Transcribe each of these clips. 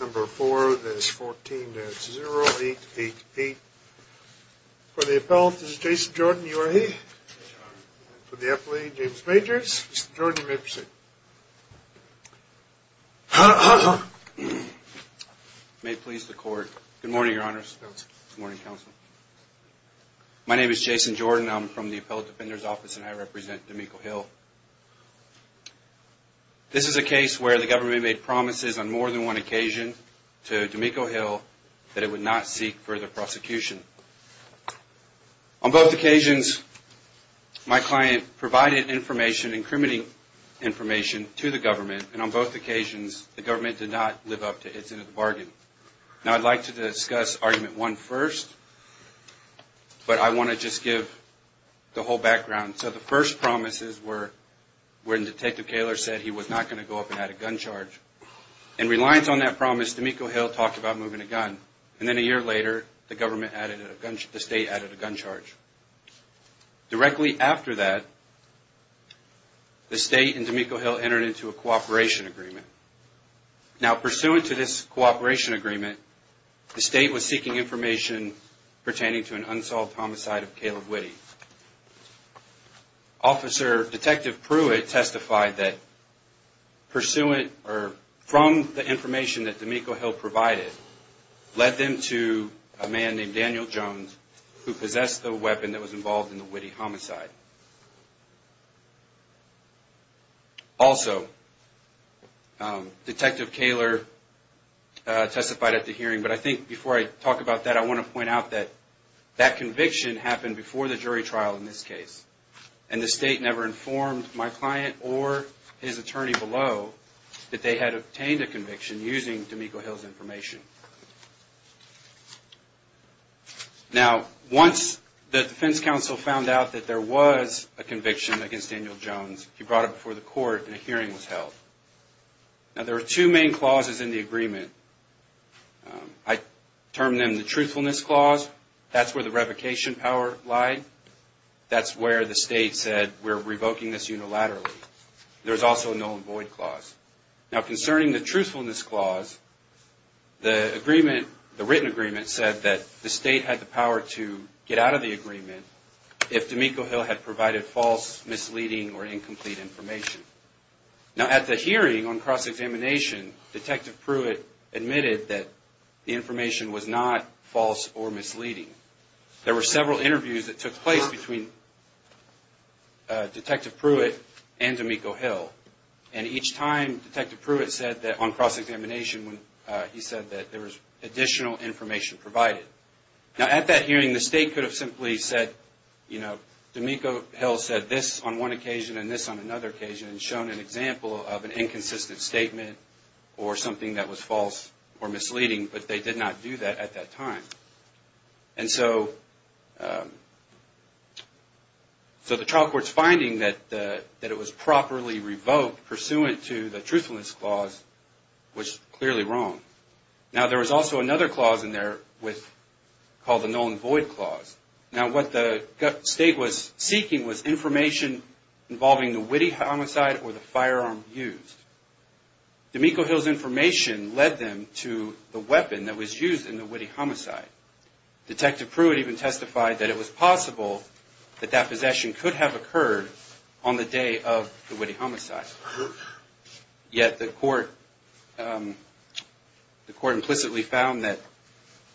Number four, that is 14, that's 0888. For the appellate, this is Jason Jordan. You are here. And for the appellate, James Majors. Mr. Jordan, you may proceed. May it please the court. Good morning, your honors. Good morning, counsel. My name is Jason Jordan. I'm from the appellate defender's office and I represent D'Amico Hill. This is a case where the government made promises on more than one occasion to D'Amico Hill that it would not seek further prosecution. On both occasions, my client provided information, incriminating information, to the government. And on both occasions, the government did not live up to its end of the bargain. Now, I'd like to discuss argument one first, but I want to just give the whole background. So the first promises were when Detective Kaler said he was not going to go up and add a gun charge. In reliance on that promise, D'Amico Hill talked about moving a gun. And then a year later, the state added a gun charge. Directly after that, the state and D'Amico Hill entered into a cooperation agreement. Now, pursuant to this cooperation agreement, the state was seeking information pertaining to an unsolved homicide of Caleb Witte. Detective Pruitt testified that from the information that D'Amico Hill provided led them to a man named Daniel Jones, who possessed the weapon that was involved in the Witte homicide. Also, Detective Kaler testified at the hearing, but I think before I talk about that, I want to point out that that conviction happened before the jury trial in this case. And the state never informed my client or his attorney below that they had obtained a conviction using D'Amico Hill's information. Now, once the defense counsel found out that there was a conviction against Daniel Jones, he brought it before the court and a hearing was held. Now, there are two main clauses in the agreement. I term them the truthfulness clause. That's where the revocation power lied. That's where the state said, we're revoking this unilaterally. There's also a null and void clause. Now, concerning the truthfulness clause, the written agreement said that the state had the power to get out of the agreement if D'Amico Hill had provided false, misleading, or incomplete information. Now, at the hearing on cross-examination, Detective Pruitt admitted that the information was not false or misleading. There were several interviews that took place between Detective Pruitt and D'Amico Hill. And each time, Detective Pruitt said that on cross-examination, he said that there was additional information provided. Now, at that hearing, the state could have simply said, D'Amico Hill said this on one occasion and this on another occasion and shown an example of an inconsistent statement or something that was false or misleading, but they did not do that at that time. And so the trial court's finding that it was properly revoked pursuant to the truthfulness clause was clearly wrong. Now, there was also another clause in there called the null and void clause. Now, what the state was seeking was information involving the witty homicide or the firearm used. D'Amico Hill's information led them to the weapon that was used in the witty homicide. Detective Pruitt even testified that it was possible that that possession could have occurred on the day of the witty homicide. Yet, the court implicitly found that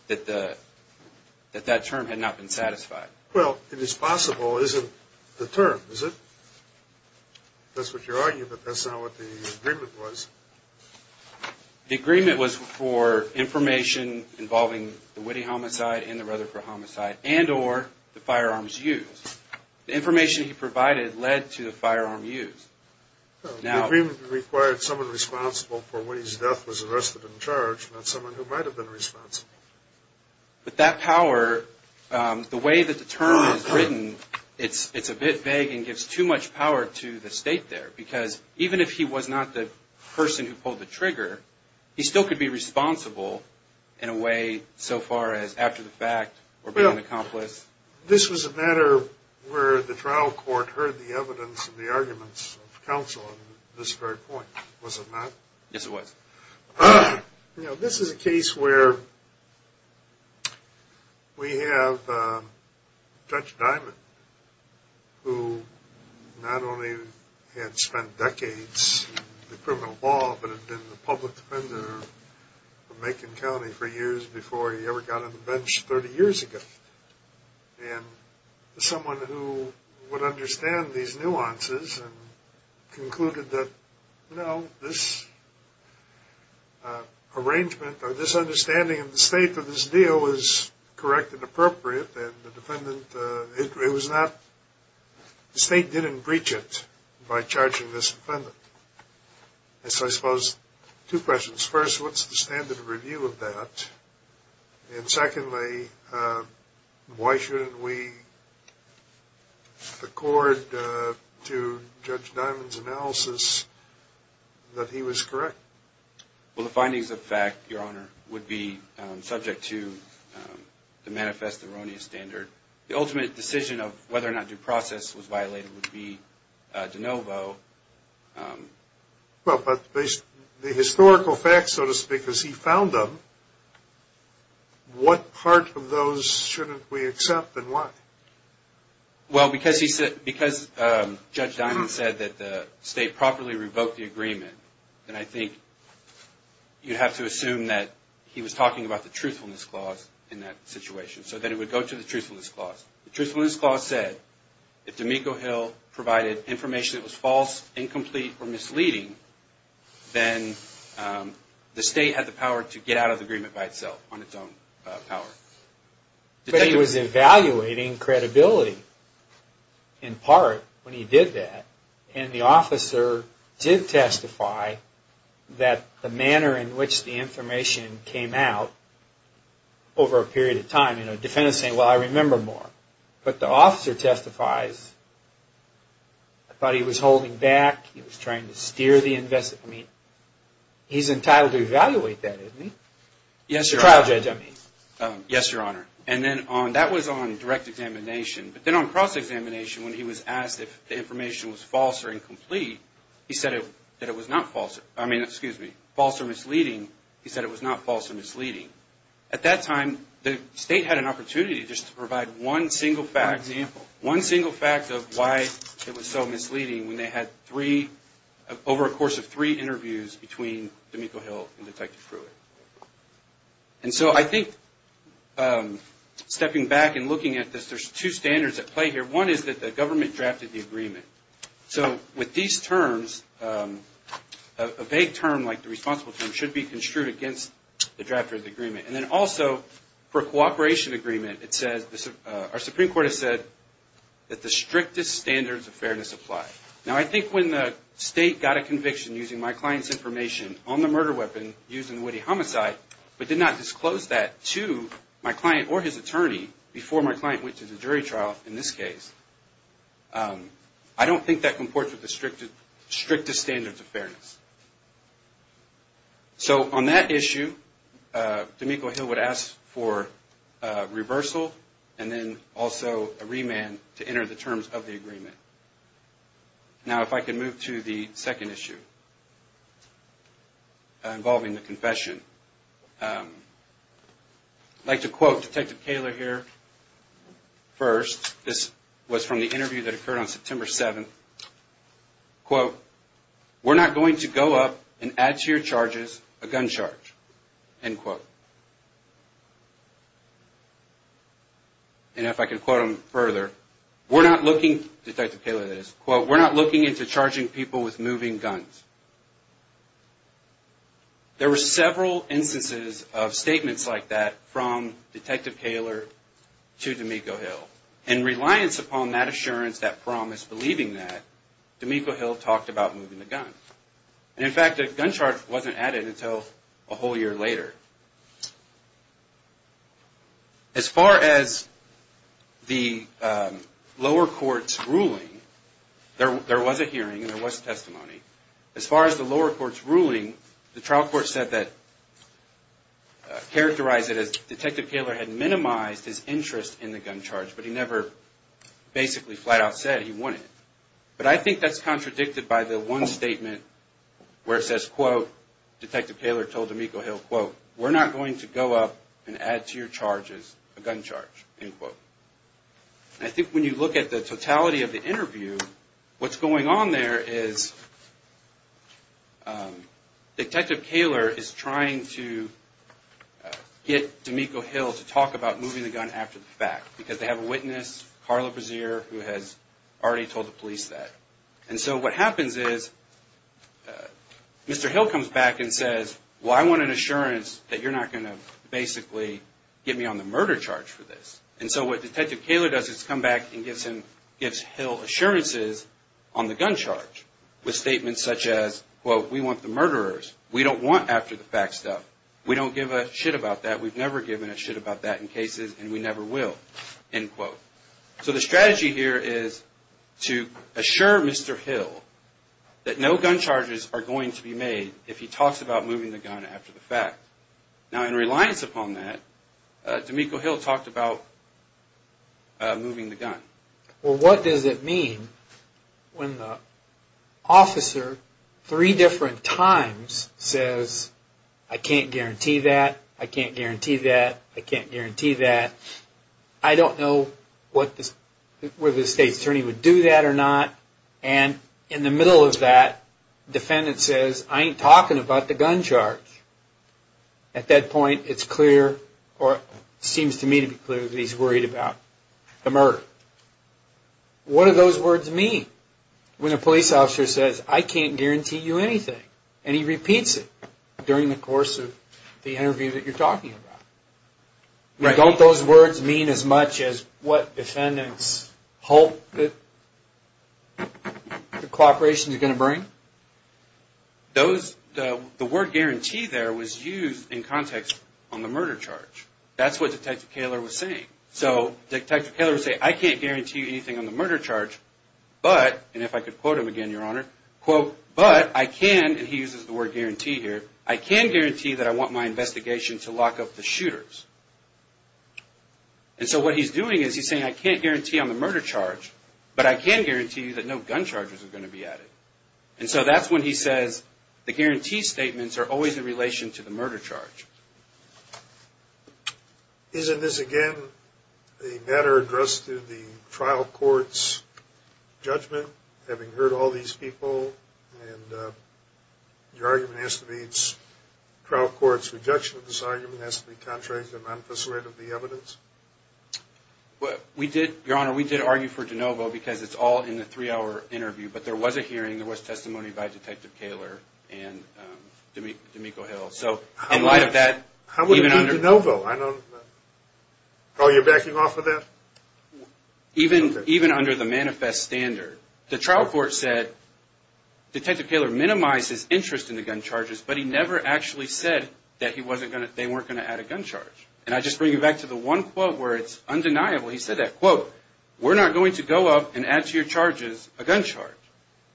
that term had not been satisfied. Well, it is possible isn't the term, is it? That's what you're arguing, but that's not what the agreement was. The agreement was for information involving the witty homicide and the Rutherford homicide and or the firearms used. The information he provided led to the firearm used. The agreement required someone responsible for witty's death was arrested and charged, not someone who might have been responsible. But that power, the way that the term is written, it's a bit vague and gives too much power to the state there. Because even if he was not the person who pulled the trigger, he still could be responsible in a way so far as after the fact or being an accomplice. This was a matter where the trial court heard the evidence and the arguments of counsel on this very point, was it not? Yes, it was. You know, this is a case where we have Judge Diamond, who not only had spent decades in criminal law, but had been the public defender for Macon County for years before he ever got on the bench 30 years ago. And someone who would understand these nuances and concluded that, no, this arrangement or this understanding of the state of this deal is correct and appropriate and the defendant, it was not, the state didn't breach it by charging this defendant. So I suppose two questions. First, what's the standard of review of that? And secondly, why shouldn't we accord to Judge Diamond's analysis that he was correct? Well, the findings of fact, Your Honor, would be subject to the manifest erroneous standard. The ultimate decision of whether or not due process was violated would be de novo. Well, but the historical facts, so to speak, as he found them, what part of those shouldn't we accept and why? Well, because Judge Diamond said that the state properly revoked the agreement, then I think you'd have to assume that he was talking about the truthfulness clause in that situation. So then it would go to the truthfulness clause. The truthfulness clause said if D'Amico Hill provided information that was false, incomplete, or misleading, then the state had the power to get out of the agreement by itself on its own power. But he was evaluating credibility, in part, when he did that. And the officer did testify that the manner in which the information came out over a period of time. And the defendant is saying, well, I remember more. But the officer testifies, I thought he was holding back, he was trying to steer the investigation. I mean, he's entitled to evaluate that, isn't he? The trial judge, I mean. Yes, Your Honor. And then that was on direct examination. But then on cross-examination, when he was asked if the information was false or incomplete, he said that it was not false. I mean, excuse me, false or misleading, he said it was not false or misleading. At that time, the state had an opportunity just to provide one single fact. One single fact of why it was so misleading when they had over a course of three interviews between D'Amico Hill and Detective Pruitt. And so I think stepping back and looking at this, there's two standards at play here. One is that the government drafted the agreement. So with these terms, a vague term like the responsible term should be construed against the draft of the agreement. And then also, for a cooperation agreement, our Supreme Court has said that the strictest standards of fairness apply. Now, I think when the state got a conviction using my client's information on the murder weapon used in the Woody homicide, but did not disclose that to my client or his attorney before my client went to the jury trial, in this case, I don't think that comports with the strictest standards of fairness. So on that issue, D'Amico Hill would ask for reversal and then also a remand to enter the terms of the agreement. Now, if I could move to the second issue involving the confession. I'd like to quote Detective Kaler here first. This was from the interview that occurred on September 7th. Quote, we're not going to go up and add to your charges a gun charge, end quote. And if I could quote him further, we're not looking, Detective Kaler that is, quote, we're not looking into charging people with moving guns. There were several instances of statements like that from Detective Kaler to D'Amico Hill. In reliance upon that assurance, that promise, believing that, D'Amico Hill talked about moving the gun. And in fact, a gun charge wasn't added until a whole year later. As far as the lower court's ruling, there was a hearing and there was testimony. As far as the lower court's ruling, the trial court said that, characterized it as Detective Kaler had minimized his interest in the gun charge. But he never basically flat out said he wanted it. But I think that's contradicted by the one statement where it says, quote, Detective Kaler told D'Amico Hill, quote, we're not going to go up and add to your charges a gun charge, end quote. I think when you look at the totality of the interview, what's going on there is Detective Kaler is trying to get D'Amico Hill to talk about moving the gun after the fact. Because they have a witness, Carla Brazier, who has already told the police that. And so what happens is, Mr. Hill comes back and says, well, I want an assurance that you're not going to basically get me on the murder charge for this. And so what Detective Kaler does is come back and gives him, gives Hill assurances on the gun charge. With statements such as, quote, we want the murderers. We don't want after the fact stuff. We don't give a shit about that. We've never given a shit about that in cases, and we never will, end quote. So the strategy here is to assure Mr. Hill that no gun charges are going to be made if he talks about moving the gun after the fact. Now, in reliance upon that, D'Amico Hill talked about moving the gun. Well, what does it mean when the officer, three different times, says, I can't guarantee that, I can't guarantee that, I can't guarantee that. I don't know whether the state attorney would do that or not. And in the middle of that, defendant says, I ain't talking about the gun charge. At that point, it's clear, or seems to me to be clear, that he's worried about the murder. What do those words mean when a police officer says, I can't guarantee you anything? And he repeats it during the course of the interview that you're talking about. Don't those words mean as much as what defendants hope that the cooperation is going to bring? The word guarantee there was used in context on the murder charge. That's what Detective Kaler was saying. So Detective Kaler would say, I can't guarantee you anything on the murder charge, but, and if I could quote him again, Your Honor, quote, but I can, and he uses the word guarantee here, I can guarantee that I want my investigation to lock up the shooters. And so what he's doing is he's saying, I can't guarantee on the murder charge, but I can guarantee you that no gun charges are going to be added. And so that's when he says, the guarantee statements are always in relation to the murder charge. Isn't this, again, a matter addressed in the trial court's judgment, having heard all these people, and your argument has to be, trial court's rejection of this argument has to be contrary to the manifest rate of the evidence? We did, Your Honor, we did argue for DeNovo because it's all in the three-hour interview, but there was a hearing, there was testimony by Detective Kaler and D'Amico Hill. How would it be DeNovo? Are you backing off of that? Even under the manifest standard, the trial court said Detective Kaler minimized his interest in the gun charges, but he never actually said that they weren't going to add a gun charge. And I just bring you back to the one quote where it's undeniable, he said that quote, we're not going to go up and add to your charges a gun charge.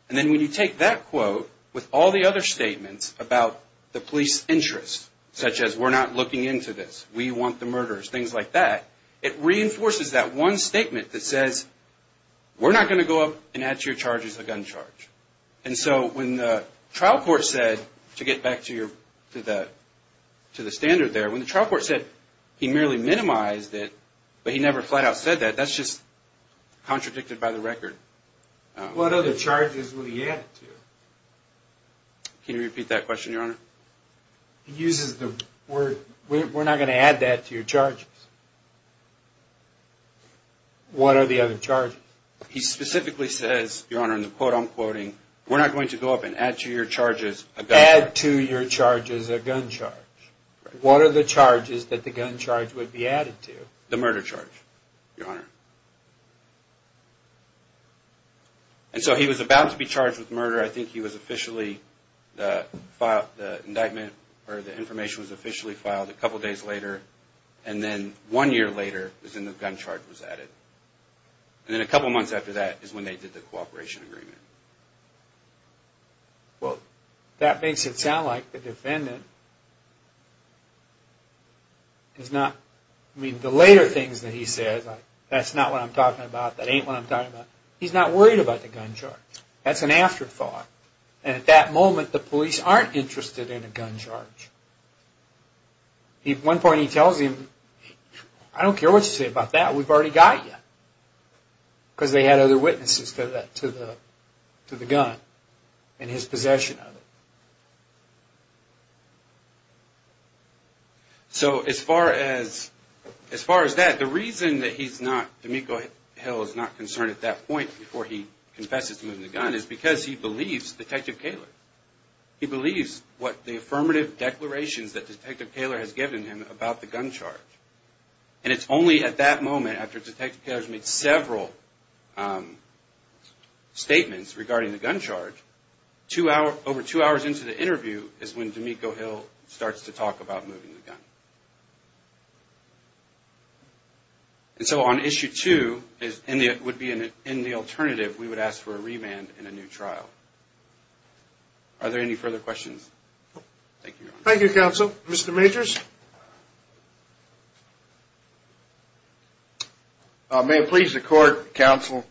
And then when you take that quote with all the other statements about the police interest, such as we're not looking into this, we want the murderers, things like that, it reinforces that one statement that says, we're not going to go up and add to your charges a gun charge. And so when the trial court said, to get back to the standard there, when the trial court said he merely minimized it, but he never flat out said that, that's just contradicted by the record. What other charges would he add to? Can you repeat that question, Your Honor? He uses the word, we're not going to add that to your charges. What are the other charges? He specifically says, Your Honor, in the quote I'm quoting, we're not going to go up and add to your charges a gun charge. Add to your charges a gun charge. What are the charges that the gun charge would be added to? The murder charge, Your Honor. And so he was about to be charged with murder, I think he was officially, the indictment, or the information was officially filed a couple days later, and then one year later, the gun charge was added. And then a couple months after that is when they did the cooperation agreement. Well, that makes it sound like the defendant is not, I mean, the later things that he says, that's not the case. That's not what I'm talking about, that ain't what I'm talking about. He's not worried about the gun charge. That's an afterthought. And at that moment, the police aren't interested in a gun charge. At one point he tells him, I don't care what you say about that, we've already got you. Because they had other witnesses to the gun and his possession of it. So as far as that, the reason that he's not, D'Amico Hill is not concerned at that point before he confesses to moving the gun is because he believes Detective Kaler. He believes what the affirmative declarations that Detective Kaler has given him about the gun charge. And it's only at that moment, after Detective Kaler has made several statements regarding the gun charge, over two hours into the interview is when D'Amico Hill starts to talk about moving the gun. And so on issue two, it would be in the alternative, we would ask for a remand and a new trial. Are there any further questions? Thank you, Your Honor. Thank you, counsel. Mr. Majors. May it please the court, counsel.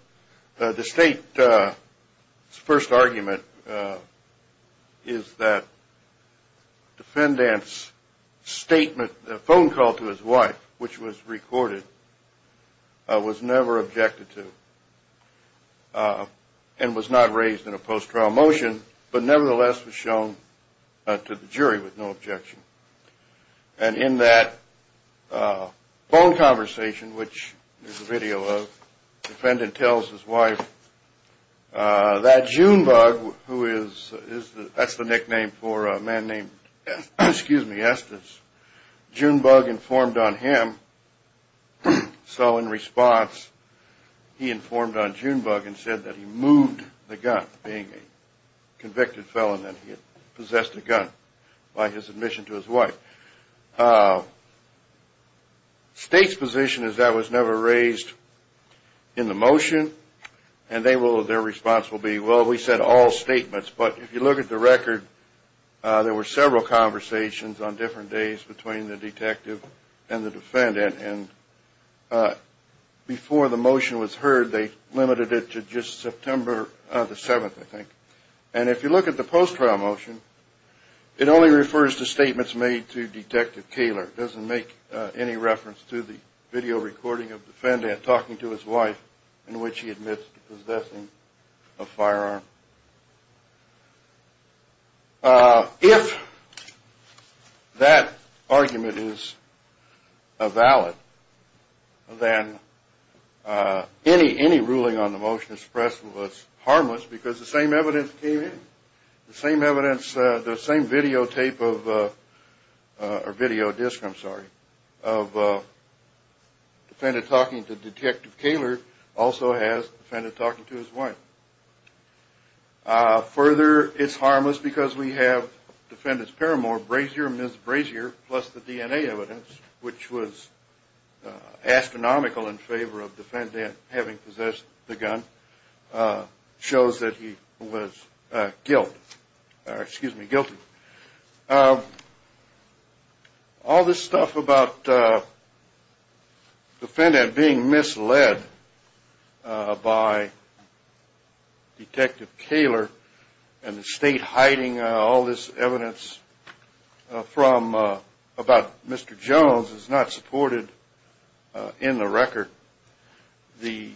The state's first argument is that the defendant's statement, the phone call to his wife, which was recorded, was never objected to. And was not raised in a post-trial motion, but nevertheless was shown to the jury with no objection. And in that phone conversation, which there's a video of, the defendant tells his wife that Junebug, who is, that's the nickname for a man named, excuse me, Estes, Junebug informed on him. So in response, he informed on Junebug and said that he moved the gun, being a convicted felon, that he had possessed a gun by his admission to his wife. State's position is that was never raised in the motion. And they will, their response will be, well, we said all statements, but if you look at the record, there were several conversations on different days between the detective and the defendant. And before the motion was heard, they limited it to just September the 7th, I think. And if you look at the post-trial motion, it only refers to statements made to Detective Kaler. It doesn't make any reference to the video recording of the defendant talking to his wife, in which he admits to possessing a firearm. If that argument is valid, then any ruling on the motion expressed was harmless, because the same evidence came in, the same evidence, the same videotape of, or videodisc, I'm sorry, of the defendant talking to Detective Kaler also has the defendant talking to his wife. Further, it's harmless because we have Defendant Paramore Brasier, Ms. Brasier, plus the DNA evidence, which was astronomical in favor of the defendant having possessed the gun, shows that he was guilty. All this stuff about the defendant being misled by Detective Kaler, and the state hiding all this evidence about Mr. Jones is not supported in the record. The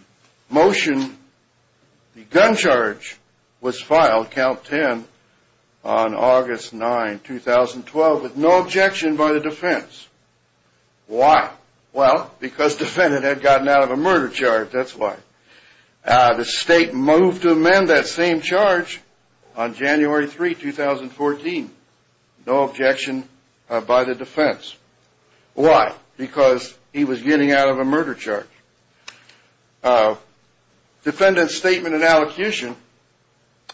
motion, the gun charge was filed, count 10, on August 9, 2012, with no objection by the defense. Why? Well, because the defendant had gotten out of a murder charge, that's why. The state moved to amend that same charge on January 3, 2014, no objection by the defense. Why? Because he was getting out of a murder charge. Defendant's statement and allocution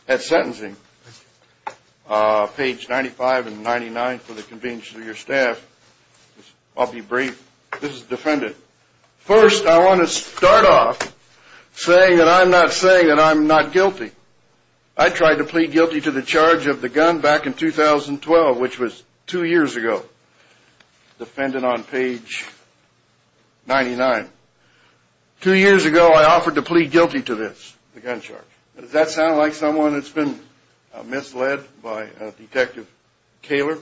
at sentencing, page 95 and 99 for the convenience of your staff, I'll be brief, this is the defendant. First, I want to start off saying that I'm not saying that I'm not guilty. I tried to plead guilty to the charge of the gun back in 2012, which was two years ago. Defendant on page 99. Two years ago, I offered to plead guilty to this, the gun charge. Does that sound like someone that's been misled by Detective Kaler?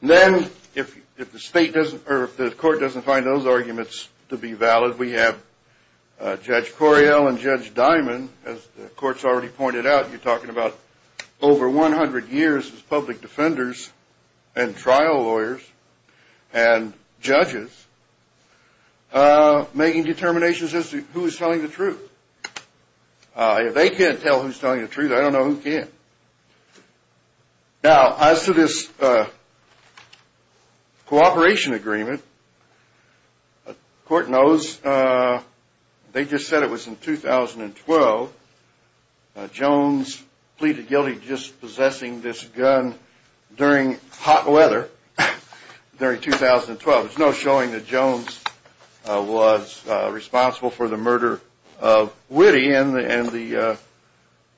Then, if the state doesn't, or if the court doesn't find those arguments to be valid, we have Judge Coriel and Judge Dimon, as the court's already pointed out, you're talking about over 100 years as public defenders and trial lawyers and judges, making determinations as to who's telling the truth. If they can't tell who's telling the truth, I don't know who can. Now, as to this cooperation agreement, the court knows they just said it was in 2012. Jones pleaded guilty to dispossessing this gun during hot weather during 2012. There's no showing that Jones was responsible for the murder of Witte, and the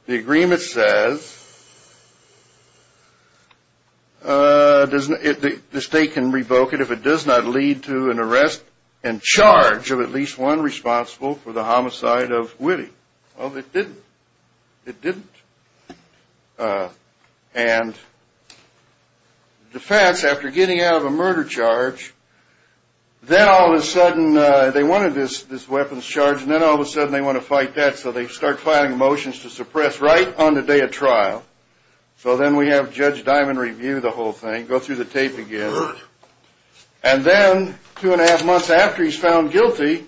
agreement says the state can revoke it if it does not lead to an arrest and charge of at least one responsible for the homicide of Witte. Well, it didn't. And the defense, after getting out of a murder charge, then all of a sudden they wanted this weapons charge and then all of a sudden they want to fight that, so they start filing motions to suppress right on the day of trial. So then we have Judge Dimon review the whole thing, go through the tape again, and then two and a half months after he's found guilty,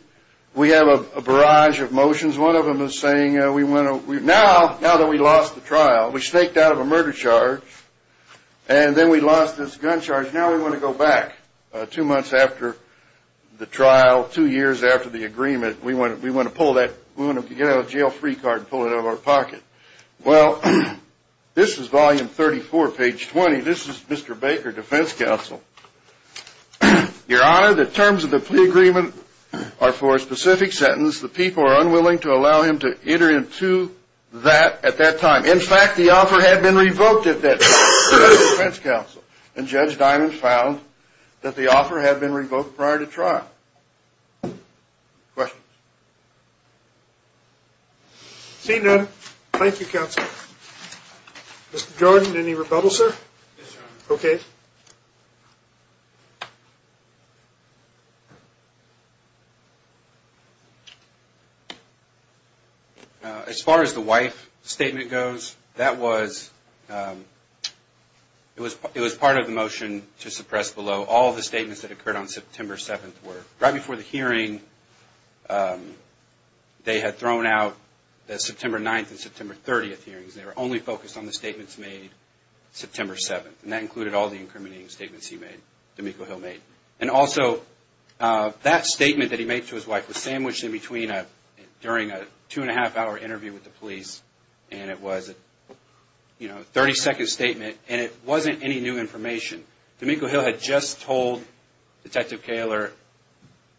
we have a barrage of motions. One of them is saying, now that we lost the trial, we snaked out of a murder charge, and then we lost this gun charge, now we want to go back two months after the trial, two years after the agreement, we want to get out a jail-free card and pull it out of our pocket. Well, this is volume 34, page 20. This is Mr. Baker, defense counsel. Your Honor, the terms of the plea agreement are for a specific sentence. The people are unwilling to allow him to enter into that at that time. In fact, the offer had been revoked at that time. And Judge Dimon found that the offer had been revoked prior to trial. Questions? Seeing none, thank you, counsel. Mr. Jordan, any rebuttal, sir? Yes, Your Honor. Okay. As far as the wife statement goes, that was part of the motion to suppress below. All the statements that occurred on September 7th were right before the hearing. They had thrown out the September 9th and September 30th hearings. They were only focused on the statements made September 7th, and that included all the incriminating statements he made, D'Amico Hill made. And also, that statement that he made to his wife was sandwiched in between during a two-and-a-half-hour interview with the police, and it was a 30-second statement, and it wasn't any new information. D'Amico Hill had just told Detective Kaler,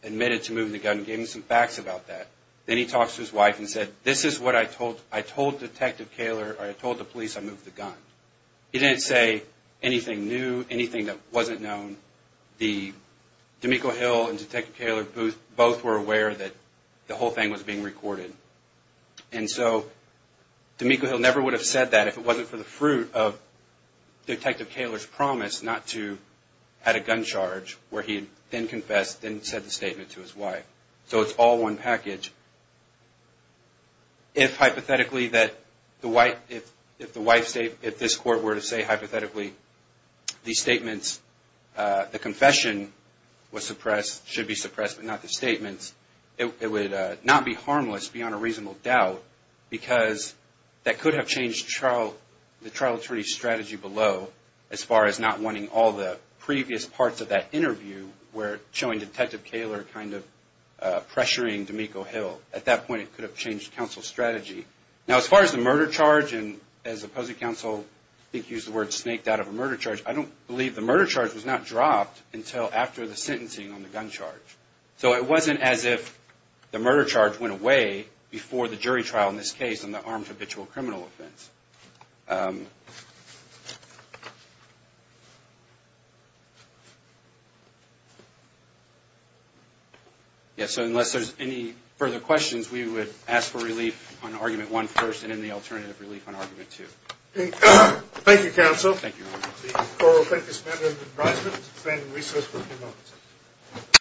admitted to moving the gun, and gave him some facts about that. Then he talks to his wife and said, this is what I told Detective Kaler, or I told the police I moved the gun. He didn't say anything new, anything that wasn't known. D'Amico Hill and Detective Kaler both were aware that the whole thing was being recorded. And so, D'Amico Hill never would have said that if it wasn't for the fruit of Detective Kaler's promise not to add a gun charge, where he then confessed, then said the statement to his wife. So it's all one package. If this Court were to say, hypothetically, the confession should be suppressed, but not the statements, it would not be harmless beyond a reasonable doubt, because that could have changed the trial attorney's strategy below, as far as not wanting all the previous parts of that interview, where showing Detective Kaler kind of pressuring D'Amico Hill. At that point, it could have changed counsel's strategy. Now, as far as the murder charge, and as the opposing counsel used the word snaked out of a murder charge, I don't believe the murder charge was not dropped until after the sentencing on the gun charge. So it wasn't as if the murder charge went away before the jury trial in this case on the armed habitual criminal offense. Yes, so unless there's any further questions, we would ask for relief on Argument 1 first, and then the alternative relief on Argument 2. Thank you, counsel.